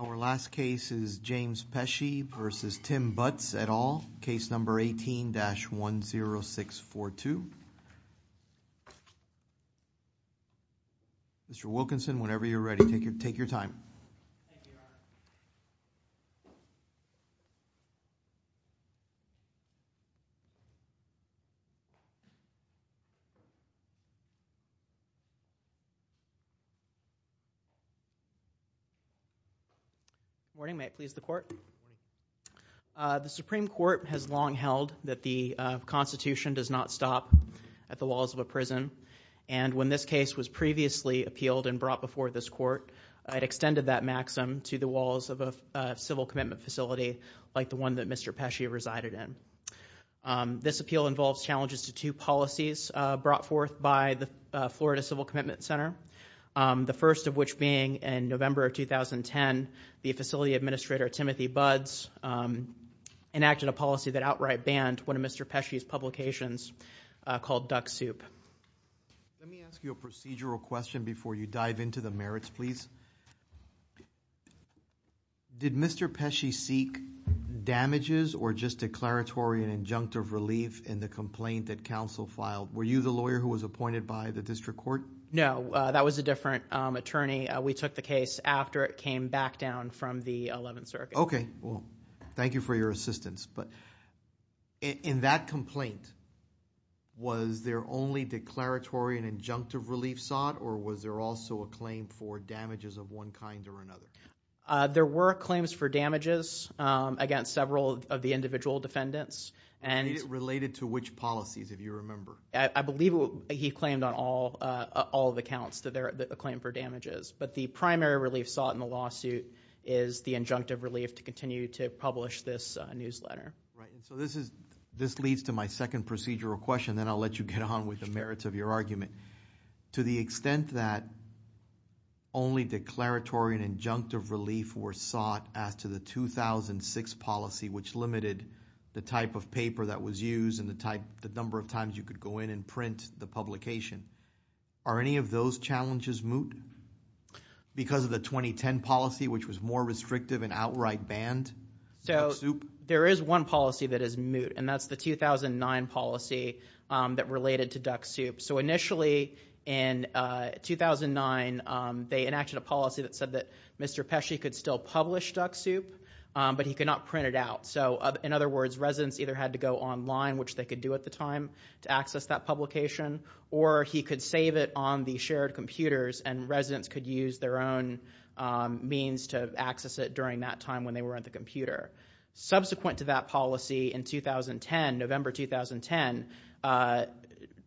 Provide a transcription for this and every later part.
at all, case number 18-10642. Mr. Wilkinson, whenever you're ready, take your time. Good morning. May it please the Court? The Supreme Court has long held that the Constitution does not stop at the walls of a prison, and when this case was previously appealed and extended that maxim to the walls of a civil commitment facility like the one that Mr. Pesci resided in. This appeal involves challenges to two policies brought forth by the Florida Civil Commitment Center, the first of which being in November of 2010, the facility administrator Timothy Budz enacted a policy that outright banned one of Mr. Pesci's publications called Duck Soup. Let me ask you a procedural question before you dive into the merits, please. Did Mr. Pesci seek damages or just declaratory and injunctive relief in the complaint that counsel filed? Were you the lawyer who was appointed by the district court? No, that was a different attorney. We took the case after it came back down from the Eleventh Circuit. Okay. Well, thank you for your assistance. But in that complaint, was there only declaratory and injunctive relief sought, or was there also a claim for damages of one kind or another? There were claims for damages against several of the individual defendants. And related to which policies, if you remember? I believe he claimed on all of the counts that there was a claim for damages. But the primary relief sought in the lawsuit is the injunctive relief to continue to publish this newsletter. Right. And so this leads to my second procedural question, then I'll let you get on with the argument. To the extent that only declaratory and injunctive relief were sought as to the 2006 policy, which limited the type of paper that was used and the number of times you could go in and print the publication, are any of those challenges moot? Because of the 2010 policy, which was more restrictive and outright banned? So there is one policy that is moot, and that's the 2009 policy that related to duck soup. So initially in 2009, they enacted a policy that said that Mr. Pesci could still publish duck soup, but he could not print it out. So in other words, residents either had to go online, which they could do at the time to access that publication, or he could save it on the shared computers and residents could use their own means to access it during that time when they were at the computer. Subsequent to that policy in 2010, November 2010,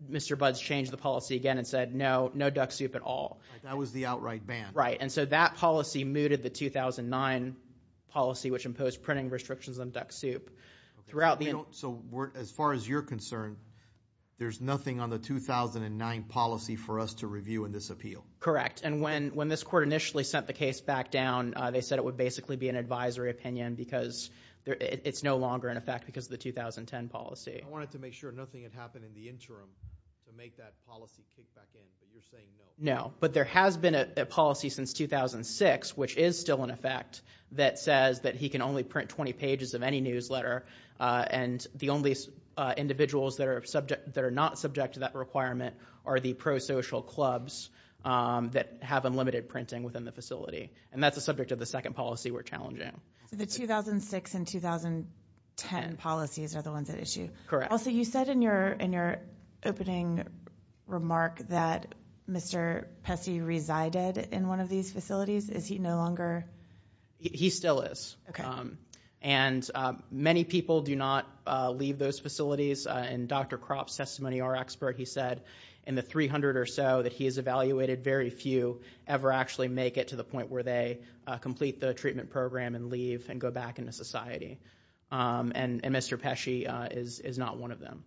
Mr. Budds changed the policy again and said no, no duck soup at all. That was the outright ban. Right. And so that policy mooted the 2009 policy which imposed printing restrictions on duck soup. So as far as you're concerned, there's nothing on the 2009 policy for us to review in this appeal? Correct. And when this court initially sent the case back down, they said it would basically be an advisory opinion because it's no longer in effect because of the 2010 policy. I wanted to make sure nothing had happened in the interim to make that policy kick back in, but you're saying no. No. But there has been a policy since 2006, which is still in effect, that says that he can only print 20 pages of any newsletter, and the only individuals that are not subject to that requirement are the pro-social clubs that have unlimited printing within the facility. And that's the subject of the second policy we're challenging. So the 2006 and 2010 policies are the ones at issue? Correct. Also, you said in your opening remark that Mr. Pesce resided in one of these facilities. Is he no longer? He still is. Okay. And many people do not leave those facilities, and Dr. Kropp's testimony, our expert, he said in the 300 or so that he has evaluated, very few ever actually make it to the point of program and leave and go back into society. And Mr. Pesce is not one of them.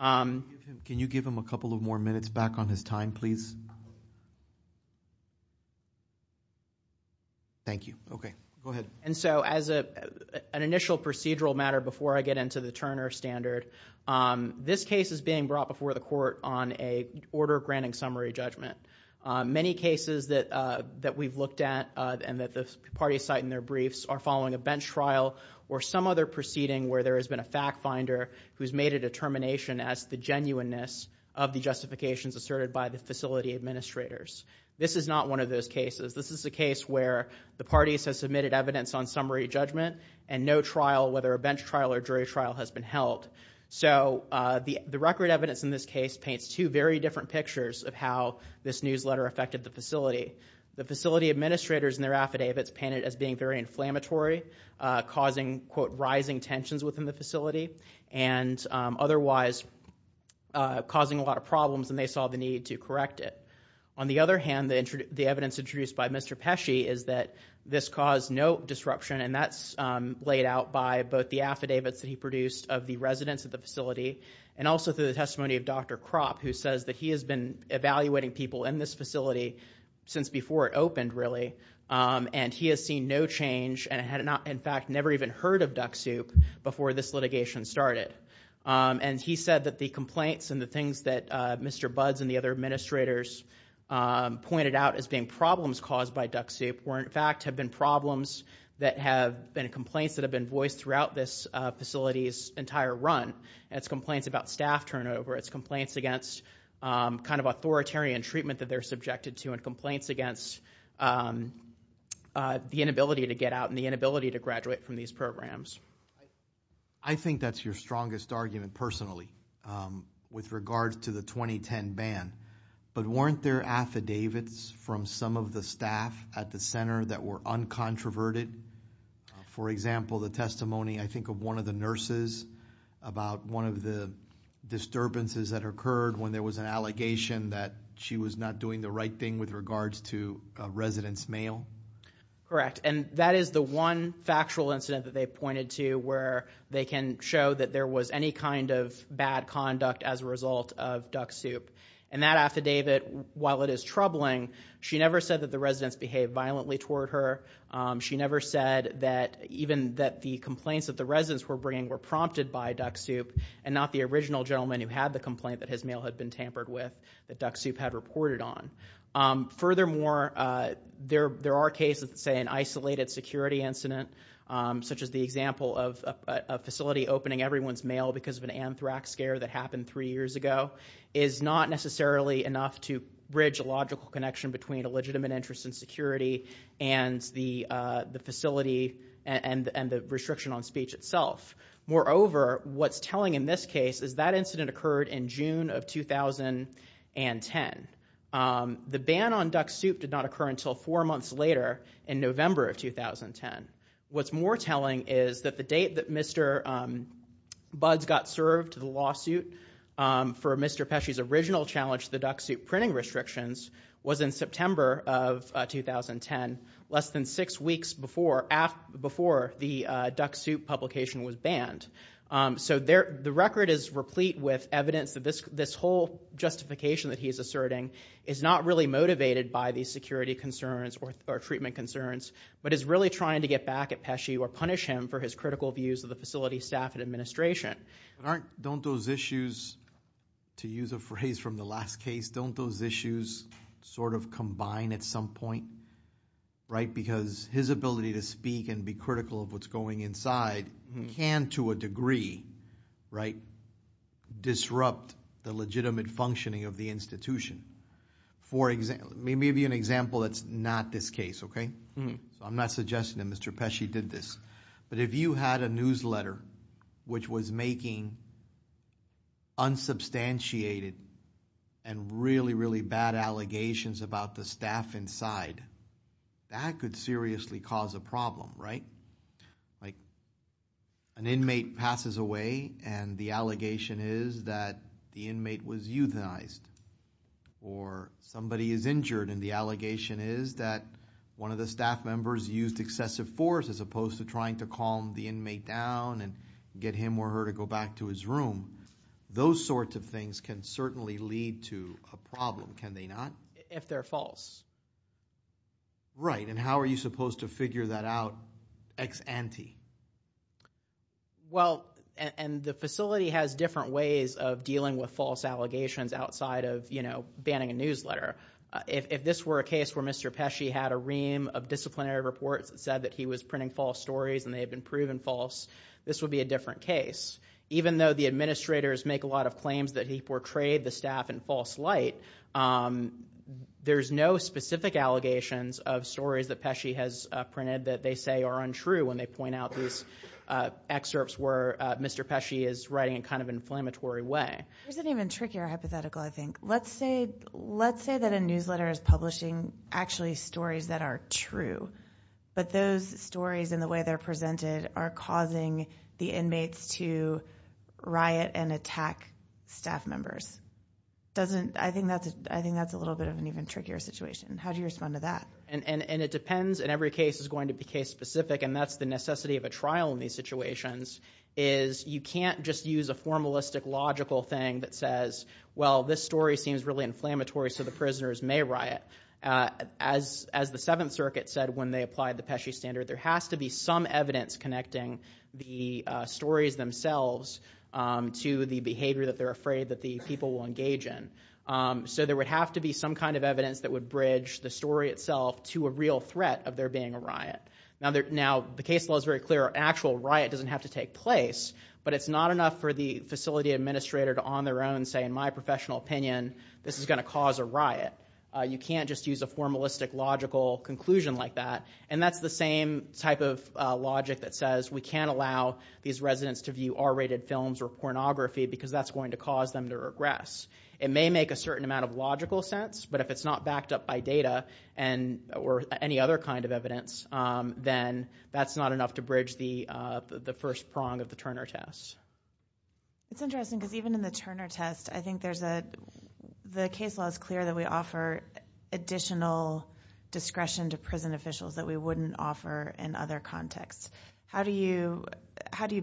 Can you give him a couple of more minutes back on his time, please? Thank you. Okay. Go ahead. And so as an initial procedural matter before I get into the Turner standard, this case is being brought before the court on an order granting summary judgment. Many cases that we've looked at and that the jury cite in their briefs are following a bench trial or some other proceeding where there has been a fact finder who's made a determination as the genuineness of the justifications asserted by the facility administrators. This is not one of those cases. This is a case where the parties have submitted evidence on summary judgment and no trial, whether a bench trial or jury trial, has been held. So the record evidence in this case paints two very different pictures of how this newsletter affected the facility. The facility administrators and their affidavits painted as being very inflammatory, causing, quote, rising tensions within the facility and otherwise causing a lot of problems and they saw the need to correct it. On the other hand, the evidence introduced by Mr. Pesce is that this caused no disruption and that's laid out by both the affidavits that he produced of the residents of the facility and also through the testimony of Dr. Kropp, who says that he has been evaluating people in this facility since before it opened, really, and he has seen no change and had in fact never even heard of Duck Soup before this litigation started. And he said that the complaints and the things that Mr. Buds and the other administrators pointed out as being problems caused by Duck Soup were in fact have been problems that have been complaints that have been voiced throughout this facility's entire run. It's complaints about staff turnover. It's complaints against kind of authoritarian treatment that they're subjected to and complaints against the inability to get out and the inability to graduate from these programs. I think that's your strongest argument, personally, with regards to the 2010 ban. But weren't there affidavits from some of the staff at the center that were uncontroverted? For example, the testimony, I think, of one of the nurses about one of the disturbances that occurred when there was an allegation that she was not doing the right thing with regards to a resident's mail? Correct. And that is the one factual incident that they pointed to where they can show that there was any kind of bad conduct as a result of Duck Soup. And that affidavit, while it is troubling, she never said that the residents behaved violently toward her. She never said that even that the complaints that the residents were bringing were prompted by Duck Soup and not the original gentleman who had the complaint that his mail had been tampered with that Duck Soup had reported on. Furthermore, there are cases that say an isolated security incident, such as the example of a facility opening everyone's mail because of an anthrax scare that happened three years ago, is not necessarily enough to bridge a logical connection between a legitimate interest in security and the facility and the restriction on speech itself. Moreover, what's telling in this case is that incident occurred in June of 2010. The ban on Duck Soup did not occur until four months later in November of 2010. What's more telling is that the date that Mr. Buds got served the lawsuit for Mr. Pesci's original challenge to the Duck Soup printing restrictions was in September of 2010, less than six weeks before the Duck Soup publication was banned. So the record is replete with evidence that this whole justification that he's asserting is not really motivated by the security concerns or treatment concerns, but is really trying to get back at Pesci or punish him for his critical views of the facility staff and administration. Don't those issues, to use a phrase from the last case, don't those issues sort of combine at some point, right? Because his ability to speak and be critical of what's going inside can, to a degree, disrupt the legitimate functioning of the institution. For example, let me give you an example that's not this case, okay? I'm not suggesting that Mr. Pesci did this, but if you had a newsletter which was making unsubstantiated and really, really bad allegations about the staff inside, that could seriously cause a problem, right? Like an inmate passes away, and the allegation is that the inmate was euthanized. Or somebody is injured, and the allegation is that one of the staff members used excessive force as opposed to trying to calm the inmate down and get him or her to go back to his room, those sorts of things can certainly lead to a problem, can they not? If they're false. Right, and how are you supposed to figure that out ex ante? Well, and the facility has different ways of dealing with false allegations outside of banning a newsletter. If this were a case where Mr. Pesci had a ream of disciplinary reports that said that he was printing false stories and they had been proven false, this would be a different case. Even though the administrators make a lot of claims that he portrayed the staff in false light, there's no specific allegations of stories that Pesci has printed that they say are untrue when they point out these excerpts where Mr. Pesci is writing in kind of an inflammatory way. There's an even trickier hypothetical, I think. Let's say that a newsletter is publishing actually stories that are true. But those stories and the way they're presented are causing the inmates to riot and attack staff members. Doesn't, I think that's a little bit of an even trickier situation. How do you respond to that? And it depends, and every case is going to be case specific, and that's the necessity of a trial in these situations. Is you can't just use a formalistic, logical thing that says, well, this story seems really inflammatory, so the prisoners may riot. As the Seventh Circuit said when they applied the Pesci standard, there has to be some evidence connecting the stories themselves to the behavior that they're afraid that the people will engage in. So there would have to be some kind of evidence that would bridge the story itself to a real threat of there being a riot. Now the case law is very clear, an actual riot doesn't have to take place, but it's not enough for the facility administrator to on their own say, in my professional opinion, this is going to cause a riot. You can't just use a formalistic, logical conclusion like that. And that's the same type of logic that says, we can't allow these residents to view R-rated films or pornography because that's going to cause them to regress. It may make a certain amount of logical sense, but if it's not backed up by data, or any other kind of evidence, then that's not enough to bridge the first prong of the Turner test. It's interesting because even in the Turner test, I think there's a, the case law is clear that we offer additional discretion to prison officials that we wouldn't offer in other contexts. How do you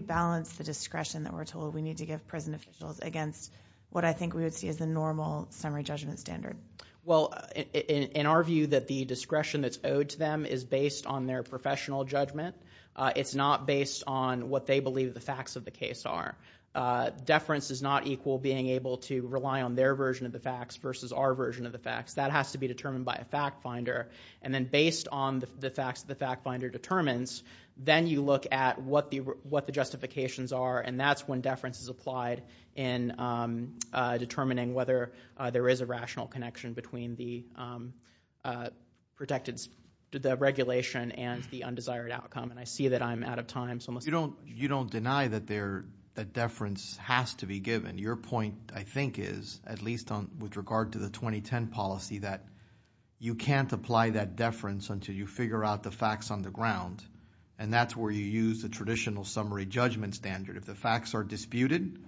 balance the discretion that we're told we need to give prison officials against what I think we would see as the normal summary judgment standard? Well, in our view that the discretion that's owed to them is based on their professional judgment. It's not based on what they believe the facts of the case are. Deference is not equal being able to rely on their version of the facts versus our version of the facts. That has to be determined by a fact finder. And then based on the facts that the fact finder determines, then you look at what the justifications are. And that's when deference is applied in determining whether there is a rational connection between the regulation and the undesired outcome, and I see that I'm out of time, so I'm going to- You don't deny that deference has to be given. Your point, I think, is, at least with regard to the 2010 policy, that you can't apply that deference until you figure out the facts on the ground. And that's where you use the traditional summary judgment standard. If the facts are disputed,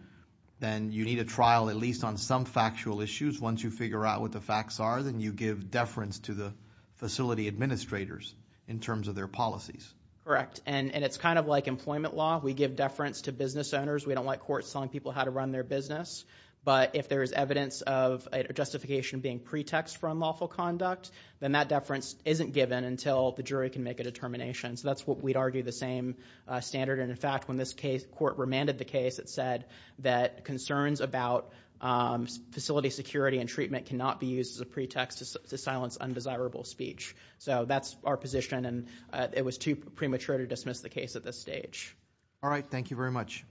then you need a trial at least on some factual issues. Once you figure out what the facts are, then you give deference to the facility administrators in terms of their policies. Correct, and it's kind of like employment law. We give deference to business owners. We don't like courts telling people how to run their business. But if there is evidence of a justification being pretext for unlawful conduct, then that deference isn't given until the jury can make a determination. So that's what we'd argue the same standard. And, in fact, when this court remanded the case, it said that concerns about facility security and treatment cannot be used as a pretext to silence undesirable speech. So that's our position, and it was too premature to dismiss the case at this stage. All right, thank you very much.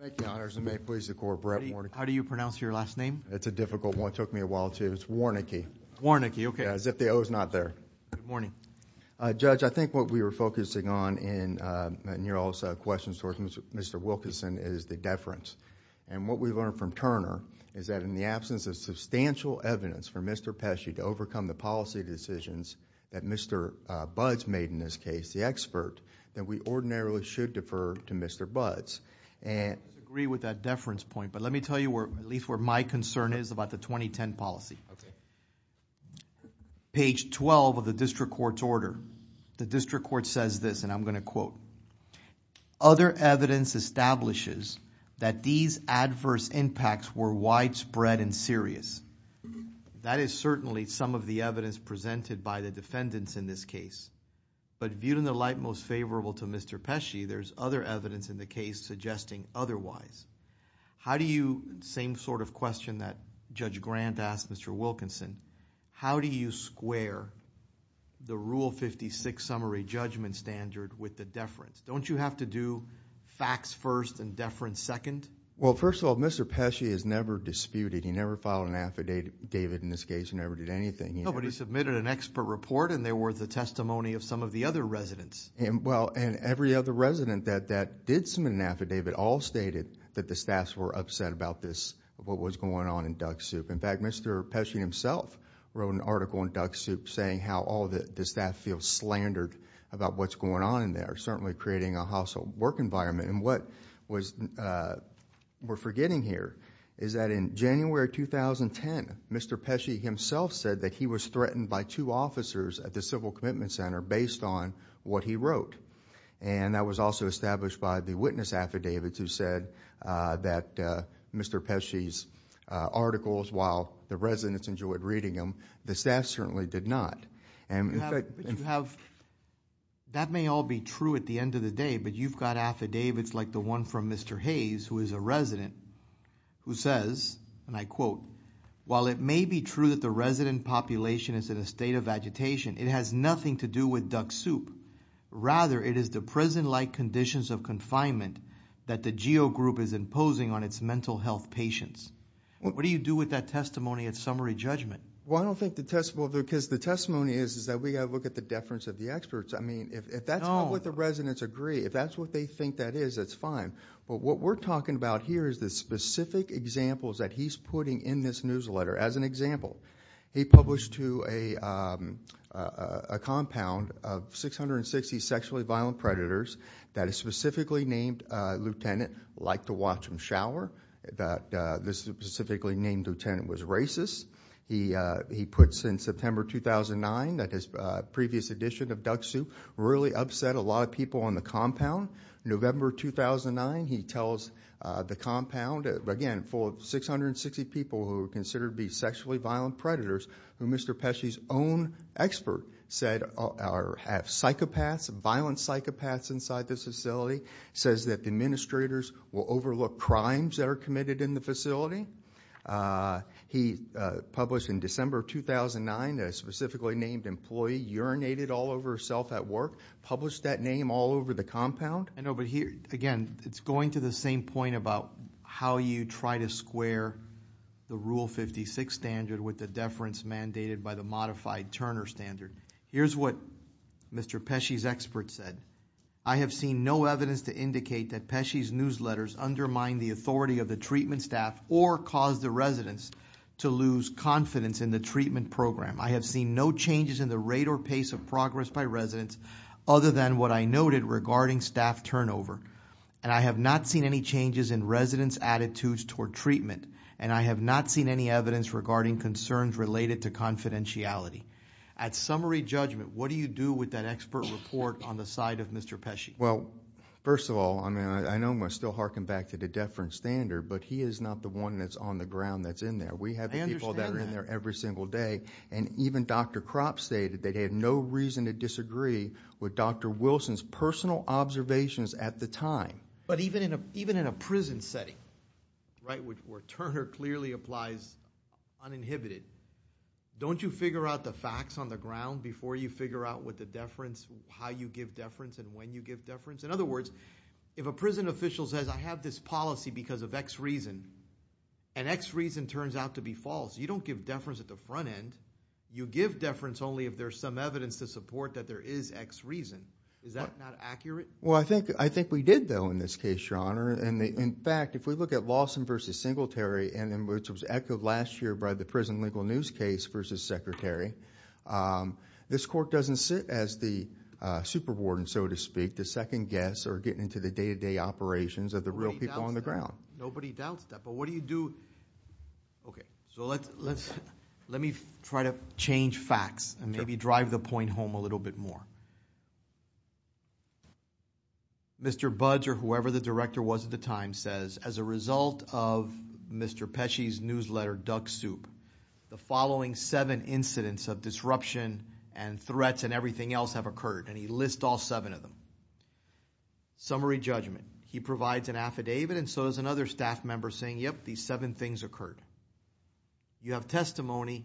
Thank you. Thank you, Your Honors, and may it please the Court, Brett Warnicke. How do you pronounce your last name? It's a difficult one. It took me a while to, it's Warnicke. Yeah, as if the O's not there. Good morning. Judge, I think what we were focusing on in your question towards Mr. Wilkinson is the deference. And what we've learned from Turner is that in the absence of substantial evidence for Mr. Pesci to overcome the policy decisions that Mr. Budds made in this case, the expert, that we ordinarily should defer to Mr. Budds. I agree with that deference point, but let me tell you at least where my concern is about the 2010 policy. Okay. Page 12 of the District Court's order. The District Court says this, and I'm going to quote, other evidence establishes that these adverse impacts were widespread and serious. That is certainly some of the evidence presented by the defendants in this case. But viewed in the light most favorable to Mr. Pesci, there's other evidence in the case suggesting otherwise. How do you, same sort of question that Judge Grant asked Mr. Wilkinson, how do you square the Rule 56 summary judgment standard with the deference? Don't you have to do facts first and deference second? Well, first of all, Mr. Pesci has never disputed, he never filed an affidavit in this case, he never did anything. No, but he submitted an expert report and they were the testimony of some of the other residents. And well, and every other resident that did submit an affidavit all stated that the staffs were upset about this, what was going on in Duck Soup. In fact, Mr. Pesci himself wrote an article in Duck Soup saying how all the staff feels slandered about what's going on in there. Certainly creating a household work environment, and what we're forgetting here is that in January 2010, Mr. Pesci himself said that he was threatened by two officers at the Civil Commitment Center based on what he wrote. And that was also established by the witness affidavits who said that Mr. Pesci's articles, while the residents enjoyed reading them, the staff certainly did not. And in fact- You have, that may all be true at the end of the day, but you've got affidavits like the one from Mr. Hayes, who is a resident, who says, and I quote, while it may be true that the resident population is in a state of agitation, it has nothing to do with Duck Soup. Rather, it is the prison-like conditions of confinement that the GEO group is imposing on its mental health patients. What do you do with that testimony at summary judgment? Well, I don't think the testimony, because the testimony is that we have to look at the deference of the experts. I mean, if that's not what the residents agree, if that's what they think that is, that's fine. But what we're talking about here is the specific examples that he's putting in this newsletter. As an example, he published to a compound of 660 sexually violent predators. That a specifically named lieutenant liked to watch them shower, that this specifically named lieutenant was racist. He puts in September 2009, that his previous edition of Duck Soup really upset a lot of people on the compound. November 2009, he tells the compound, again, full of 660 people who are considered to be sexually violent predators. Who Mr. Pesci's own expert said have psychopaths, violent psychopaths inside this facility. Says that the administrators will overlook crimes that are committed in the facility. He published in December 2009, a specifically named employee urinated all over herself at work. Published that name all over the compound. I know, but here, again, it's going to the same point about how you try to square the Rule 56 standard with the deference mandated by the modified Turner standard. Here's what Mr. Pesci's expert said. I have seen no evidence to indicate that Pesci's newsletters undermine the authority of the treatment staff or cause the residents to lose confidence in the treatment program. I have seen no changes in the rate or pace of progress by residents other than what I noted regarding staff turnover. And I have not seen any changes in residents' attitudes toward treatment. And I have not seen any evidence regarding concerns related to confidentiality. At summary judgment, what do you do with that expert report on the side of Mr. Pesci? Well, first of all, I mean, I know I'm still harking back to the deference standard, but he is not the one that's on the ground that's in there. We have people that are in there every single day. And even Dr. Kropp stated that he had no reason to disagree with Dr. Wilson's personal observations at the time. But even in a prison setting, right, where Turner clearly applies uninhibited, don't you figure out the facts on the ground before you figure out what the deference, how you give deference, and when you give deference? In other words, if a prison official says I have this policy because of X reason, and X reason turns out to be false, you don't give deference at the front end. You give deference only if there's some evidence to support that there is X reason. Is that not accurate? Well, I think we did, though, in this case, Your Honor. And in fact, if we look at Lawson versus Singletary, and which was echoed last year by the prison legal news case versus Secretary. This court doesn't sit as the super warden, so to speak. The second guests are getting into the day-to-day operations of the real people on the ground. Nobody doubts that, but what do you do? Okay, so let me try to change facts, and maybe drive the point home a little bit more. Mr. Budge, or whoever the director was at the time, says as a result of Mr. Pesci's newsletter, Duck Soup, the following seven incidents of disruption and threats and everything else have occurred. And he lists all seven of them. Summary judgment, he provides an affidavit, and so does another staff member saying, yep, these seven things occurred. You have testimony,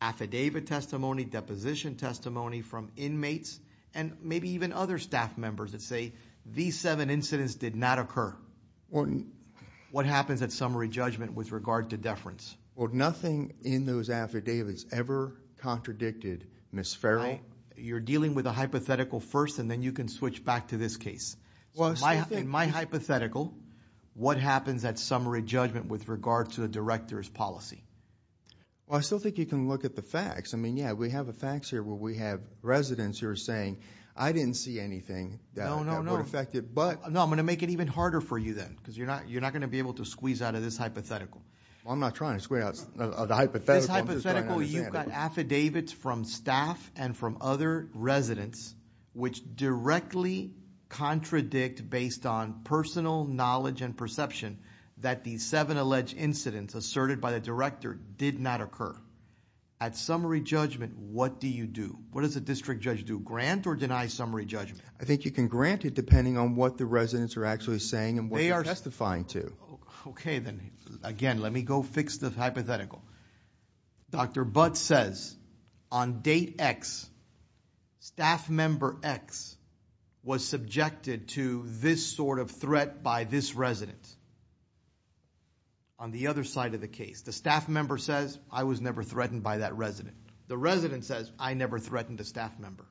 affidavit testimony, deposition testimony from inmates, and maybe even other staff members that say, these seven incidents did not occur. What happens at summary judgment with regard to deference? Well, nothing in those affidavits ever contradicted Ms. Farrell. You're dealing with a hypothetical first, and then you can switch back to this case. In my hypothetical, what happens at summary judgment with regard to the director's policy? Well, I still think you can look at the facts. I mean, yeah, we have the facts here where we have residents who are saying, I didn't see anything that would affect it, but- No, I'm going to make it even harder for you then, because you're not going to be able to squeeze out of this hypothetical. I'm not trying to squeeze out of the hypothetical. In this hypothetical, you've got affidavits from staff and from other residents, which directly contradict based on personal knowledge and perception that these seven alleged incidents asserted by the director did not occur. At summary judgment, what do you do? What does a district judge do, grant or deny summary judgment? I think you can grant it depending on what the residents are actually saying and what they're testifying to. Okay, then again, let me go fix the hypothetical. Dr. Butt says, on date X, staff member X was subjected to this sort of threat by this resident. On the other side of the case, the staff member says, I was never threatened by that resident. The resident says, I never threatened a staff member.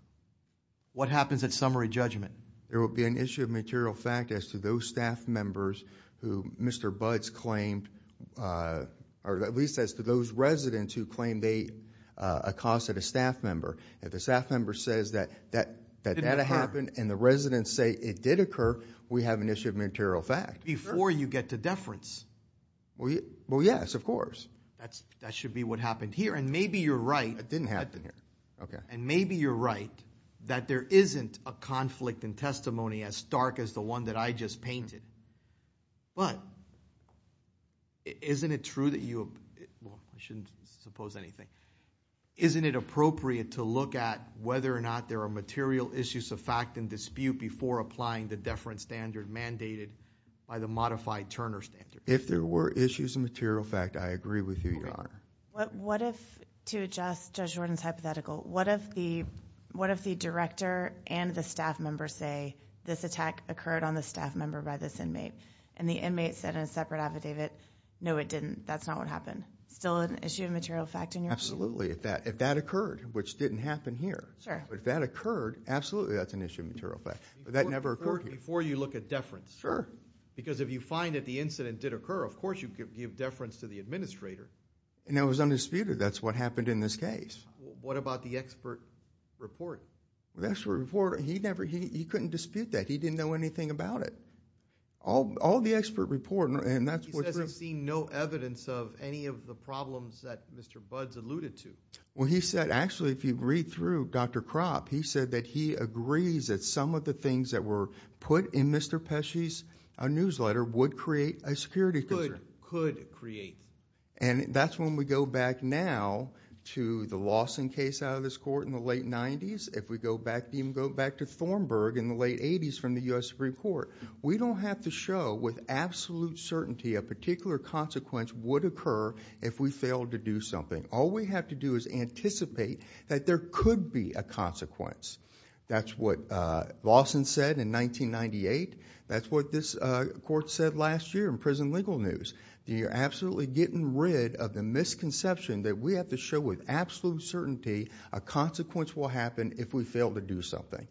What happens at summary judgment? There will be an issue of material fact as to those staff members who Mr. Butts claimed, or at least as to those residents who claim they accosted a staff member. If the staff member says that that happened and the residents say it did occur, we have an issue of material fact. Before you get to deference. Well, yes, of course. That should be what happened here. And maybe you're right. It didn't happen here. Okay. And maybe you're right. That there isn't a conflict in testimony as stark as the one that I just painted. But, isn't it true that you, well, I shouldn't suppose anything. Isn't it appropriate to look at whether or not there are material issues of fact and dispute before applying the deference standard mandated by the modified Turner standard? If there were issues of material fact, I agree with you, Your Honor. What if, to adjust Judge Jordan's hypothetical, what if the director and the staff member say this attack occurred on the staff member by this inmate? And the inmate said in a separate affidavit, no it didn't, that's not what happened. Still an issue of material fact in your opinion? Absolutely, if that occurred, which didn't happen here. Sure. But if that occurred, absolutely that's an issue of material fact, but that never occurred here. Before you look at deference. Sure. And that was undisputed, that's what happened in this case. What about the expert report? The expert report, he never, he couldn't dispute that. He didn't know anything about it. All, all the expert report, and that's what- He says he's seen no evidence of any of the problems that Mr. Budds alluded to. Well, he said, actually, if you read through Dr. Kropp, he said that he agrees that some of the things that were put in Mr. Pesci's newsletter would create a security concern. Could, could create. And that's when we go back now to the Lawson case out of this court in the late 90s, if we go back, even go back to Thornburg in the late 80s from the US Supreme Court. We don't have to show with absolute certainty a particular consequence would occur if we failed to do something. All we have to do is anticipate that there could be a consequence. That's what Lawson said in 1998. That's what this court said last year in prison legal news. You're absolutely getting rid of the misconception that we have to show with absolute certainty a consequence will happen if we fail to do something.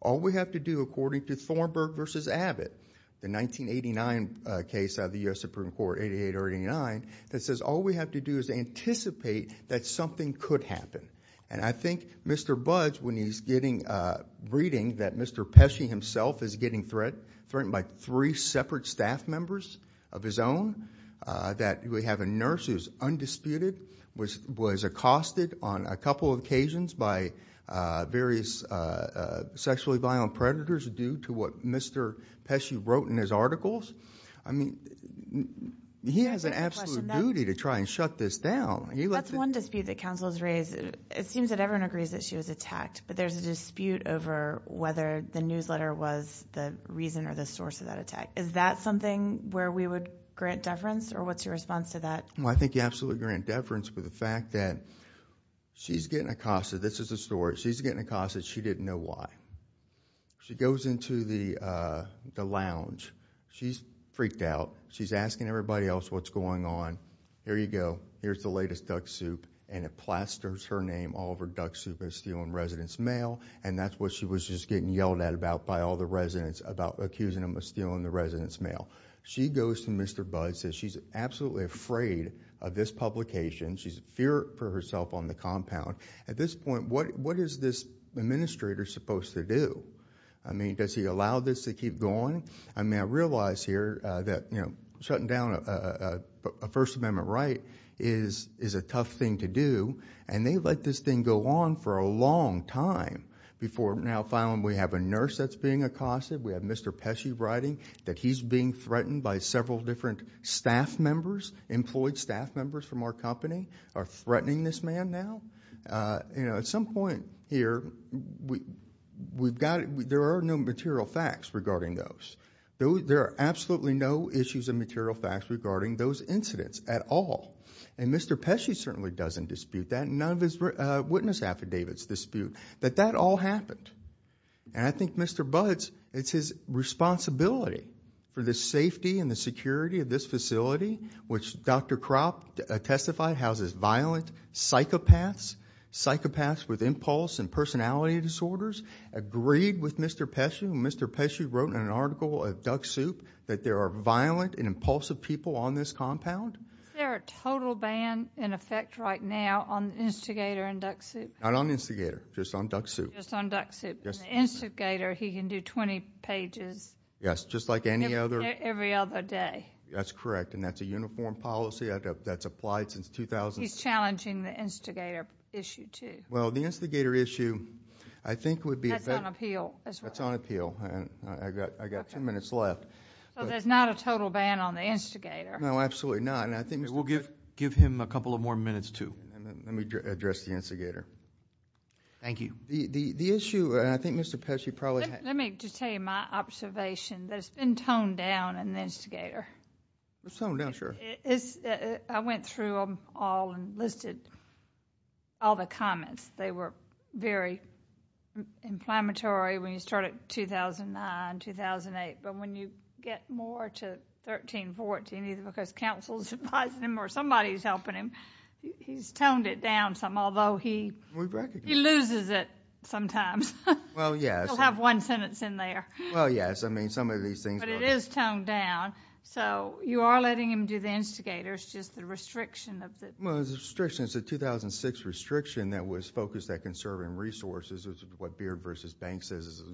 All we have to do, according to Thornburg versus Abbott, the 1989 case out of the US Supreme Court, 88 or 89, that says all we have to do is anticipate that something could happen, and I think Mr. Budds, when he's getting reading that Mr. Pesci himself is getting threat, threatened by three separate staff members of his own, that we have a nurse who's undisputed, was accosted on a couple occasions by various sexually violent predators due to what Mr. Pesci wrote in his articles, I mean, he has an absolute duty to try and shut this down. He let the- That's one dispute that counsel has raised. It seems that everyone agrees that she was attacked, but there's a dispute over whether the newsletter was the reason or the source of that attack. Is that something where we would grant deference, or what's your response to that? Well, I think you absolutely grant deference with the fact that she's getting accosted, this is the story, she's getting accosted, she didn't know why. She goes into the lounge, she's freaked out, she's asking everybody else what's going on. Here you go, here's the latest duck soup, and it plasters her name all over duck soup as stealing resident's mail, and that's what she was just getting yelled at about by all the residents about accusing them of stealing the resident's mail. She goes to Mr. Bud, says she's absolutely afraid of this publication, she's fear for herself on the compound. At this point, what is this administrator supposed to do? I mean, does he allow this to keep going? I mean, I realize here that shutting down a First Amendment right is a tough thing to do, and they let this thing go on for a long time before now finally we have a nurse that's being accosted. We have Mr. Pesci writing that he's being threatened by several different staff members, employed staff members from our company, are threatening this man now. At some point here, there are no material facts regarding those. There are absolutely no issues of material facts regarding those incidents at all. And Mr. Pesci certainly doesn't dispute that, none of his witness affidavits dispute that that all happened. And I think Mr. Bud's, it's his responsibility for the safety and the security of this facility, which Dr. Kropp testified houses violent psychopaths, psychopaths with impulse and personality disorders, agreed with Mr. Pesci. And Mr. Pesci wrote in an article at Duck Soup that there are violent and impulsive people on this compound. Is there a total ban in effect right now on the instigator in Duck Soup? Not on the instigator, just on Duck Soup. Just on Duck Soup. Yes. And the instigator, he can do 20 pages. Yes, just like any other- Every other day. That's correct, and that's a uniform policy that's applied since 2000. He's challenging the instigator issue too. Well, the instigator issue, I think would be- That's on appeal as well. Well, there's not a total ban on the instigator. No, absolutely not. And I think Mr- We'll give him a couple of more minutes too. And then let me address the instigator. Thank you. The issue, and I think Mr. Pesci probably- Let me just tell you my observation. That it's been toned down in the instigator. It's toned down, sure. I went through them all and listed all the comments. They were very inflammatory when you start at 2009, 2008. But when you get more to 13, 14, either because counsel's advising him or somebody's helping him, he's toned it down some. Although he- We recognize that. He loses it sometimes. Well, yes. He'll have one sentence in there. Well, yes. I mean, some of these things- But it is toned down. So, you are letting him do the instigator. It's just the restriction of the- Well, it's a restriction. It's what Beard v. Banks says is a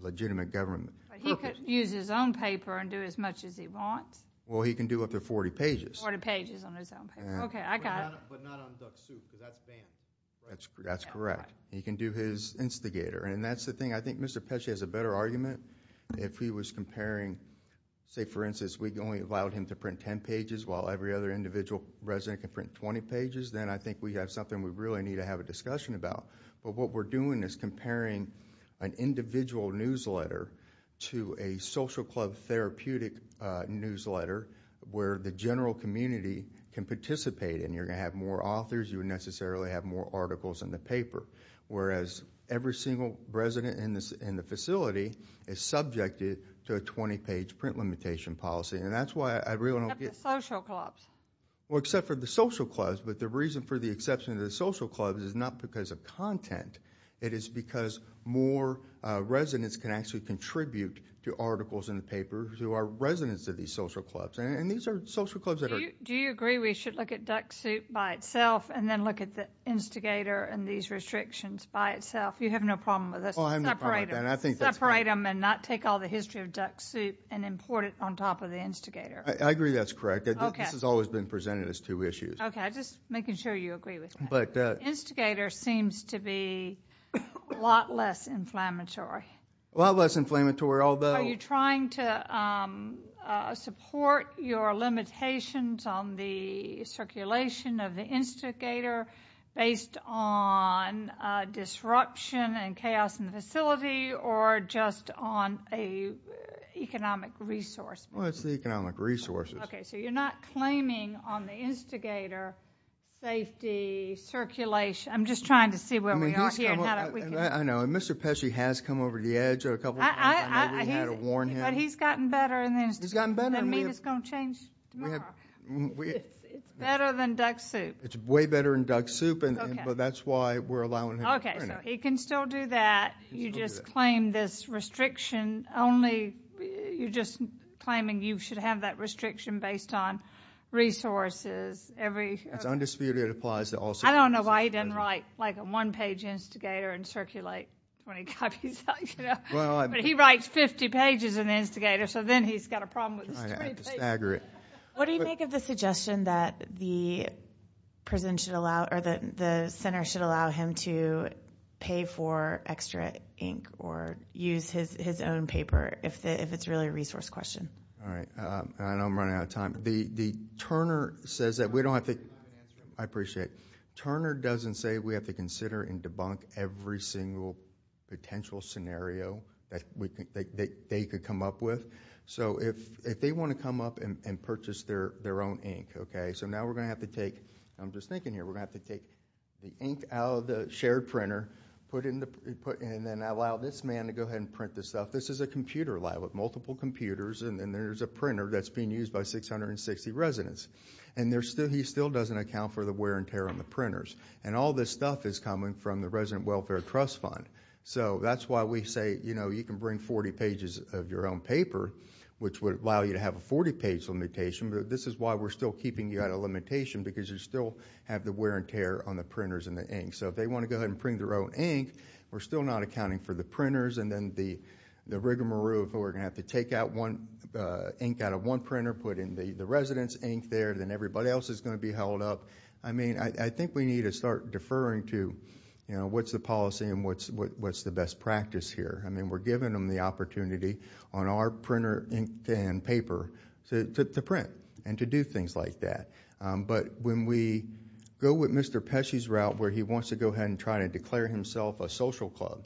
legitimate government purpose. He could use his own paper and do as much as he wants. Well, he can do up to 40 pages. 40 pages on his own paper. Okay, I got it. But not on Duck Soup, because that's banned. That's correct. He can do his instigator, and that's the thing. I think Mr. Pesci has a better argument. If he was comparing, say, for instance, we only allowed him to print 10 pages while every other individual resident can print 20 pages, then I think we have something we really need to have a discussion about. But what we're doing is comparing an individual newsletter to a social club therapeutic newsletter where the general community can participate in. You're going to have more authors. You would necessarily have more articles in the paper, whereas every single resident in the facility is subjected to a 20-page print limitation policy. And that's why I really don't get- Except the social clubs. Well, except for the social clubs. But the reason for the exception of the social clubs is not because of content. It is because more residents can actually contribute to articles in the paper who are residents of these social clubs. And these are social clubs that are- Do you agree we should look at Duck Soup by itself and then look at the instigator and these restrictions by itself? You have no problem with this? Well, I have no problem with that. Separate them and not take all the history of Duck Soup and import it on top of the instigator. I agree that's correct. This has always been presented as two issues. Okay, I'm just making sure you agree with that. The instigator seems to be a lot less inflammatory. A lot less inflammatory, although- Are you trying to support your limitations on the circulation of the instigator based on disruption and chaos in the facility or just on a economic resource? Well, it's the economic resources. Okay, so you're not claiming on the instigator safety, circulation. I'm just trying to see where we are here and how we can- I know, and Mr. Pesci has come over the edge a couple of times. I know we had to warn him. But he's gotten better and then- He's gotten better. The meat is going to change tomorrow. It's better than Duck Soup. It's way better than Duck Soup, but that's why we're allowing him. Okay, so he can still do that. You just claim this restriction only. You're just claiming you should have that restriction based on resources, every- It's undisputed. It applies to all- I don't know why he doesn't write a one-page instigator and circulate when he copies. But he writes 50 pages in the instigator, so then he's got a problem with three pages. What do you make of the suggestion that the center should allow him to pay for extra ink or use his own paper if it's really a resource question? All right, I know I'm running out of time. The Turner says that we don't have to- I appreciate. Turner doesn't say we have to consider and debunk every single potential scenario that they could come up with. So if they want to come up and purchase their own ink, okay? So now we're going to have to take- I'm just thinking here. We're going to have to take the ink out of the shared printer, and then allow this man to go ahead and print this stuff. This is a computer lab with multiple computers, and there's a printer that's being used by 660 residents. And he still doesn't account for the wear and tear on the printers. And all this stuff is coming from the Resident Welfare Trust Fund. So that's why we say, you know, you can bring 40 pages of your own paper, which would allow you to have a 40-page limitation, but this is why we're still keeping you out of limitation, because you still have the wear and tear on the printers and the ink. So if they want to go ahead and print their own ink, we're still not accounting for the printers and then the rigmarole, but we're going to have to take out one ink out of one printer, put in the resident's ink there, then everybody else is going to be held up. I mean, I think we need to start deferring to, you know, what's the policy and what's the best practice here. I mean, we're giving them the opportunity on our printer ink and paper to print and to do things like that. But when we go with Mr. Pesci's route, where he wants to go ahead and try to declare himself a social club,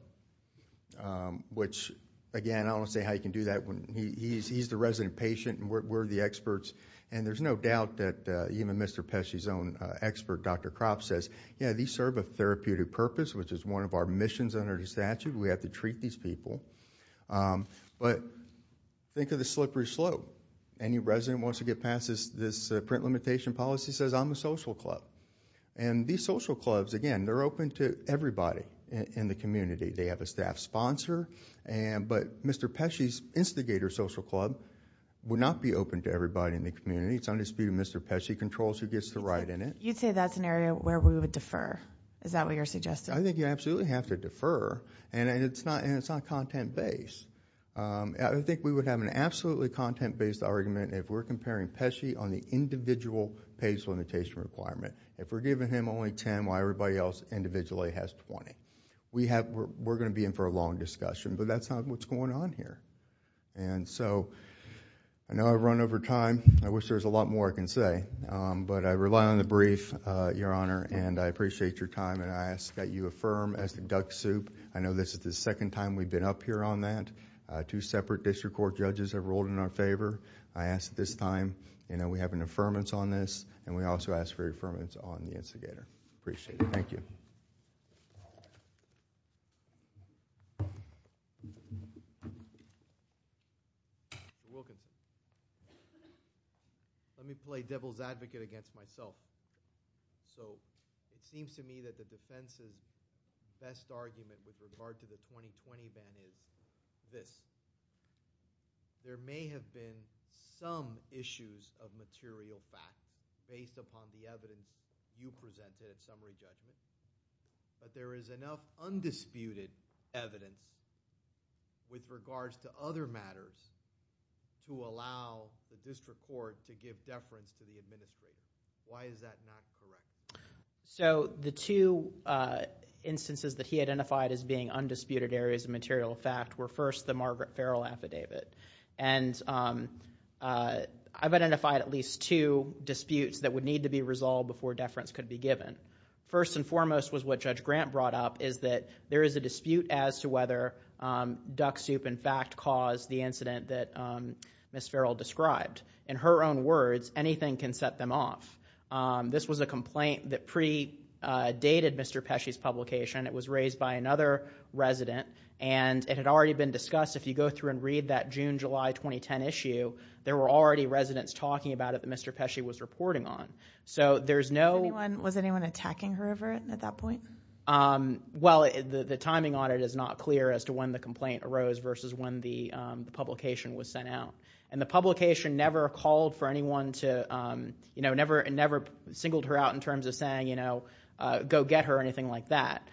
which, again, I don't want to say how you can do that. He's the resident patient and we're the experts, and there's no doubt that even Mr. Pesci's own expert, Dr. Kropp, says, yeah, these serve a therapeutic purpose, which is one of our missions under the statute. We have to treat these people. But think of the slippery slope. Any resident wants to get past this print limitation policy says, I'm a social club. And these social clubs, again, they're open to everybody in the community. They have a staff sponsor. But Mr. Pesci's instigator social club would not be open to everybody in the community. It's on dispute of Mr. Pesci controls who gets to ride in it. You'd say that's an area where we would defer. Is that what you're suggesting? I think you absolutely have to defer. And it's not content-based. I think we would have an absolutely content-based argument if we're comparing Pesci on the individual page limitation requirement. If we're giving him only 10, why everybody else individually has 20? We're going to be in for a long discussion. But that's not what's going on here. And so I know I've run over time. I wish there was a lot more I can say. But I rely on the brief, Your Honor. And I appreciate your time. And I ask that you affirm as the duck soup. I know this is the second time we've been up here on that. Two separate district court judges have rolled in our favor. I ask at this time, we have an affirmance on this. And we also ask for your affirmance on the instigator. Appreciate it. Thank you. Mr. Wilkins. Let me play devil's advocate against myself. So it seems to me that the defense's best argument with regard to the 2020 ban is this. There may have been some issues of material fact based upon the evidence you presented at summary judgment. But there is enough undisputed evidence with regards to other matters to allow the district court to give deference to the administration. Why is that not correct? So the two instances that he identified as being undisputed areas of material fact were first the Margaret Farrell affidavit. And I've identified at least two disputes that would need to be resolved before deference could be given. First and foremost was what Judge Grant brought up is that there is a dispute as to whether duck soup in fact caused the incident that Ms. Farrell described. In her own words, anything can set them off. This was a complaint that pre-dated Mr. Pesci's publication. It was raised by another resident. And it had already been discussed. If you go through and read that June, July 2010 issue, there were already residents talking about it that Mr. Pesci was reporting on. So there's no- Was anyone attacking her ever at that point? Well, the timing on it is not clear as to when the complaint arose versus when the publication was sent out. And the publication never called for anyone to, you know, never singled her out in terms of saying, you know, go get her or anything like that.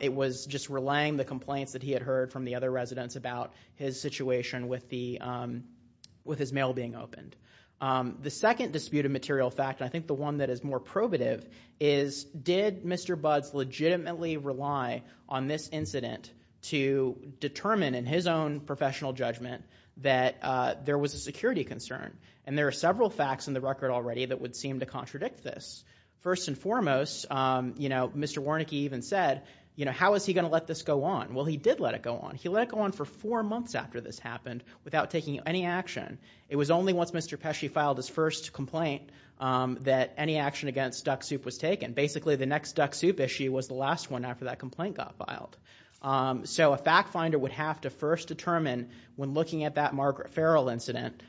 It was just relaying the complaints that he had heard from the other residents about his situation with his mail being opened. The second disputed material fact, I think the one that is more probative, is did Mr. Buds legitimately rely on this incident to determine in his own professional judgment that there was a security concern? And there are several facts in the record already that would seem to contradict this. First and foremost, you know, Mr. Warnicke even said, you know, how is he going to let this go on? Well, he did let it go on. He let it go on for four months after this happened without taking any action. It was only once Mr. Pesci filed his first complaint that any action against Duck Soup was taken. Basically, the next Duck Soup issue was the last one after that complaint got filed. So a fact finder would have to first determine when looking at that Margaret Farrell incident,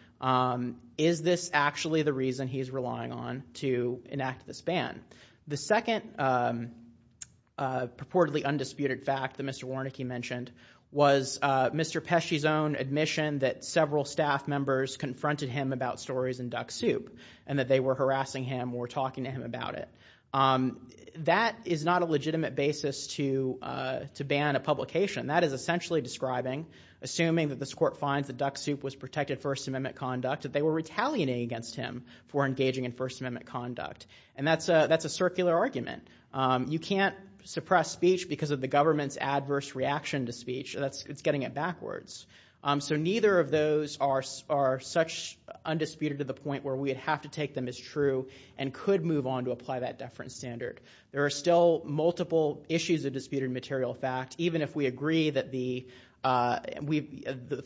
is this actually the reason he's relying on to enact this ban? The second purportedly undisputed fact that Mr. Warnicke mentioned was Mr. Pesci's own admission that several staff members confronted him about stories in Duck Soup and that they were harassing him or talking to him about it. That is not a legitimate basis to ban a publication. That is essentially describing, assuming that this court finds that Duck Soup was protected First Amendment conduct, that they were retaliating against him for engaging in First Amendment conduct. And that's a circular argument. You can't suppress speech because of the government's adverse reaction to speech. That's, it's getting it backwards. So neither of those are such undisputed to the point where we would have to take them as true and could move on to apply that deference standard. There are still multiple issues of disputed material fact. Even if we agree that the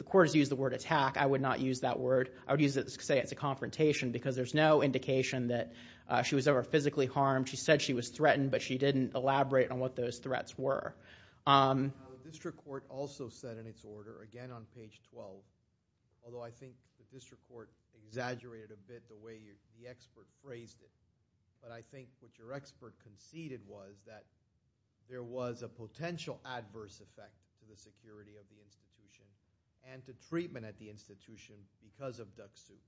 court has used the word attack, I would not use that word. I would use it to say it's a confrontation because there's no indication that she was ever physically harmed. She said she was threatened, but she didn't elaborate on what those threats were. The district court also said in its order, again on page 12, although I think the district court exaggerated a bit the way the expert phrased it, but I think what your expert conceded was that there was a potential adverse effect to the security of the institution and to treatment at the institution because of Duck Soup.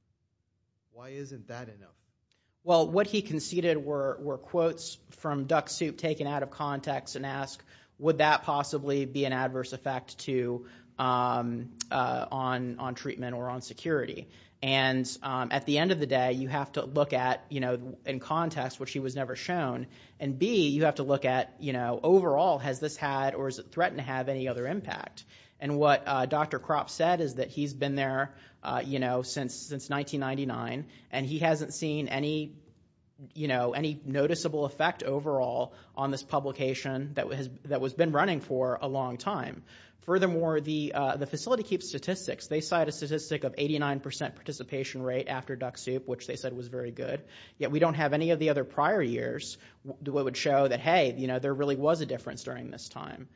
Why isn't that enough? Well, what he conceded were quotes from Duck Soup taken out of context and ask, would that possibly be an adverse effect on treatment or on security? And at the end of the day, you have to look at in context, which he was never shown, and B, you have to look at overall, has this had or is it threatened to have any other impact? And what Dr. Kropp said is that he's been there since 1999 and he hasn't seen any noticeable effect overall on this publication that was been running for a long time. Furthermore, the facility keeps statistics. They cite a statistic of 89% participation rate after Duck Soup, which they said was very good. Yet we don't have any of the other prior years that would show that, hey, there really was a difference during this time.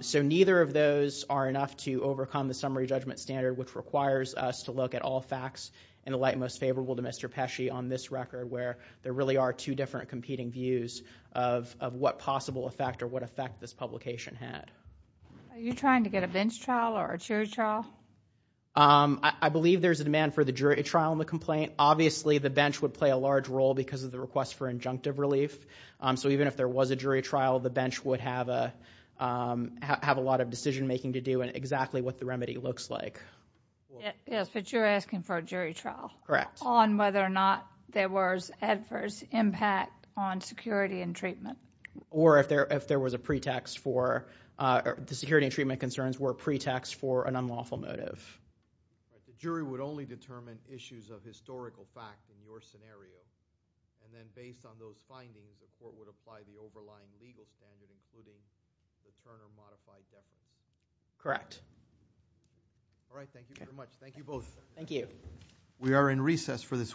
So neither of those are enough to overcome the summary judgment standard, which requires us to look at all facts in the light most favorable to Mr. Pesci on this record, where there really are two different competing views of what possible effect or what effect this publication had. Are you trying to get a bench trial or a jury trial? I believe there's a demand for the jury trial in the complaint. Obviously, the bench would play a large role because of the request for injunctive relief. So even if there was a jury trial, the bench would have a lot of decision making to do and exactly what the remedy looks like. Yes, but you're asking for a jury trial. Correct. On whether or not there was adverse impact on security and treatment. Or if there was a pretext for the security and treatment concerns were a pretext for an unlawful motive. The jury would only determine issues of historical fact in your scenario. And then based on those findings, the court would apply the overlying legal standard, including the Turner modified definition. Correct. All right. Thank you very much. Thank you both. Thank you. We are in recess for this week.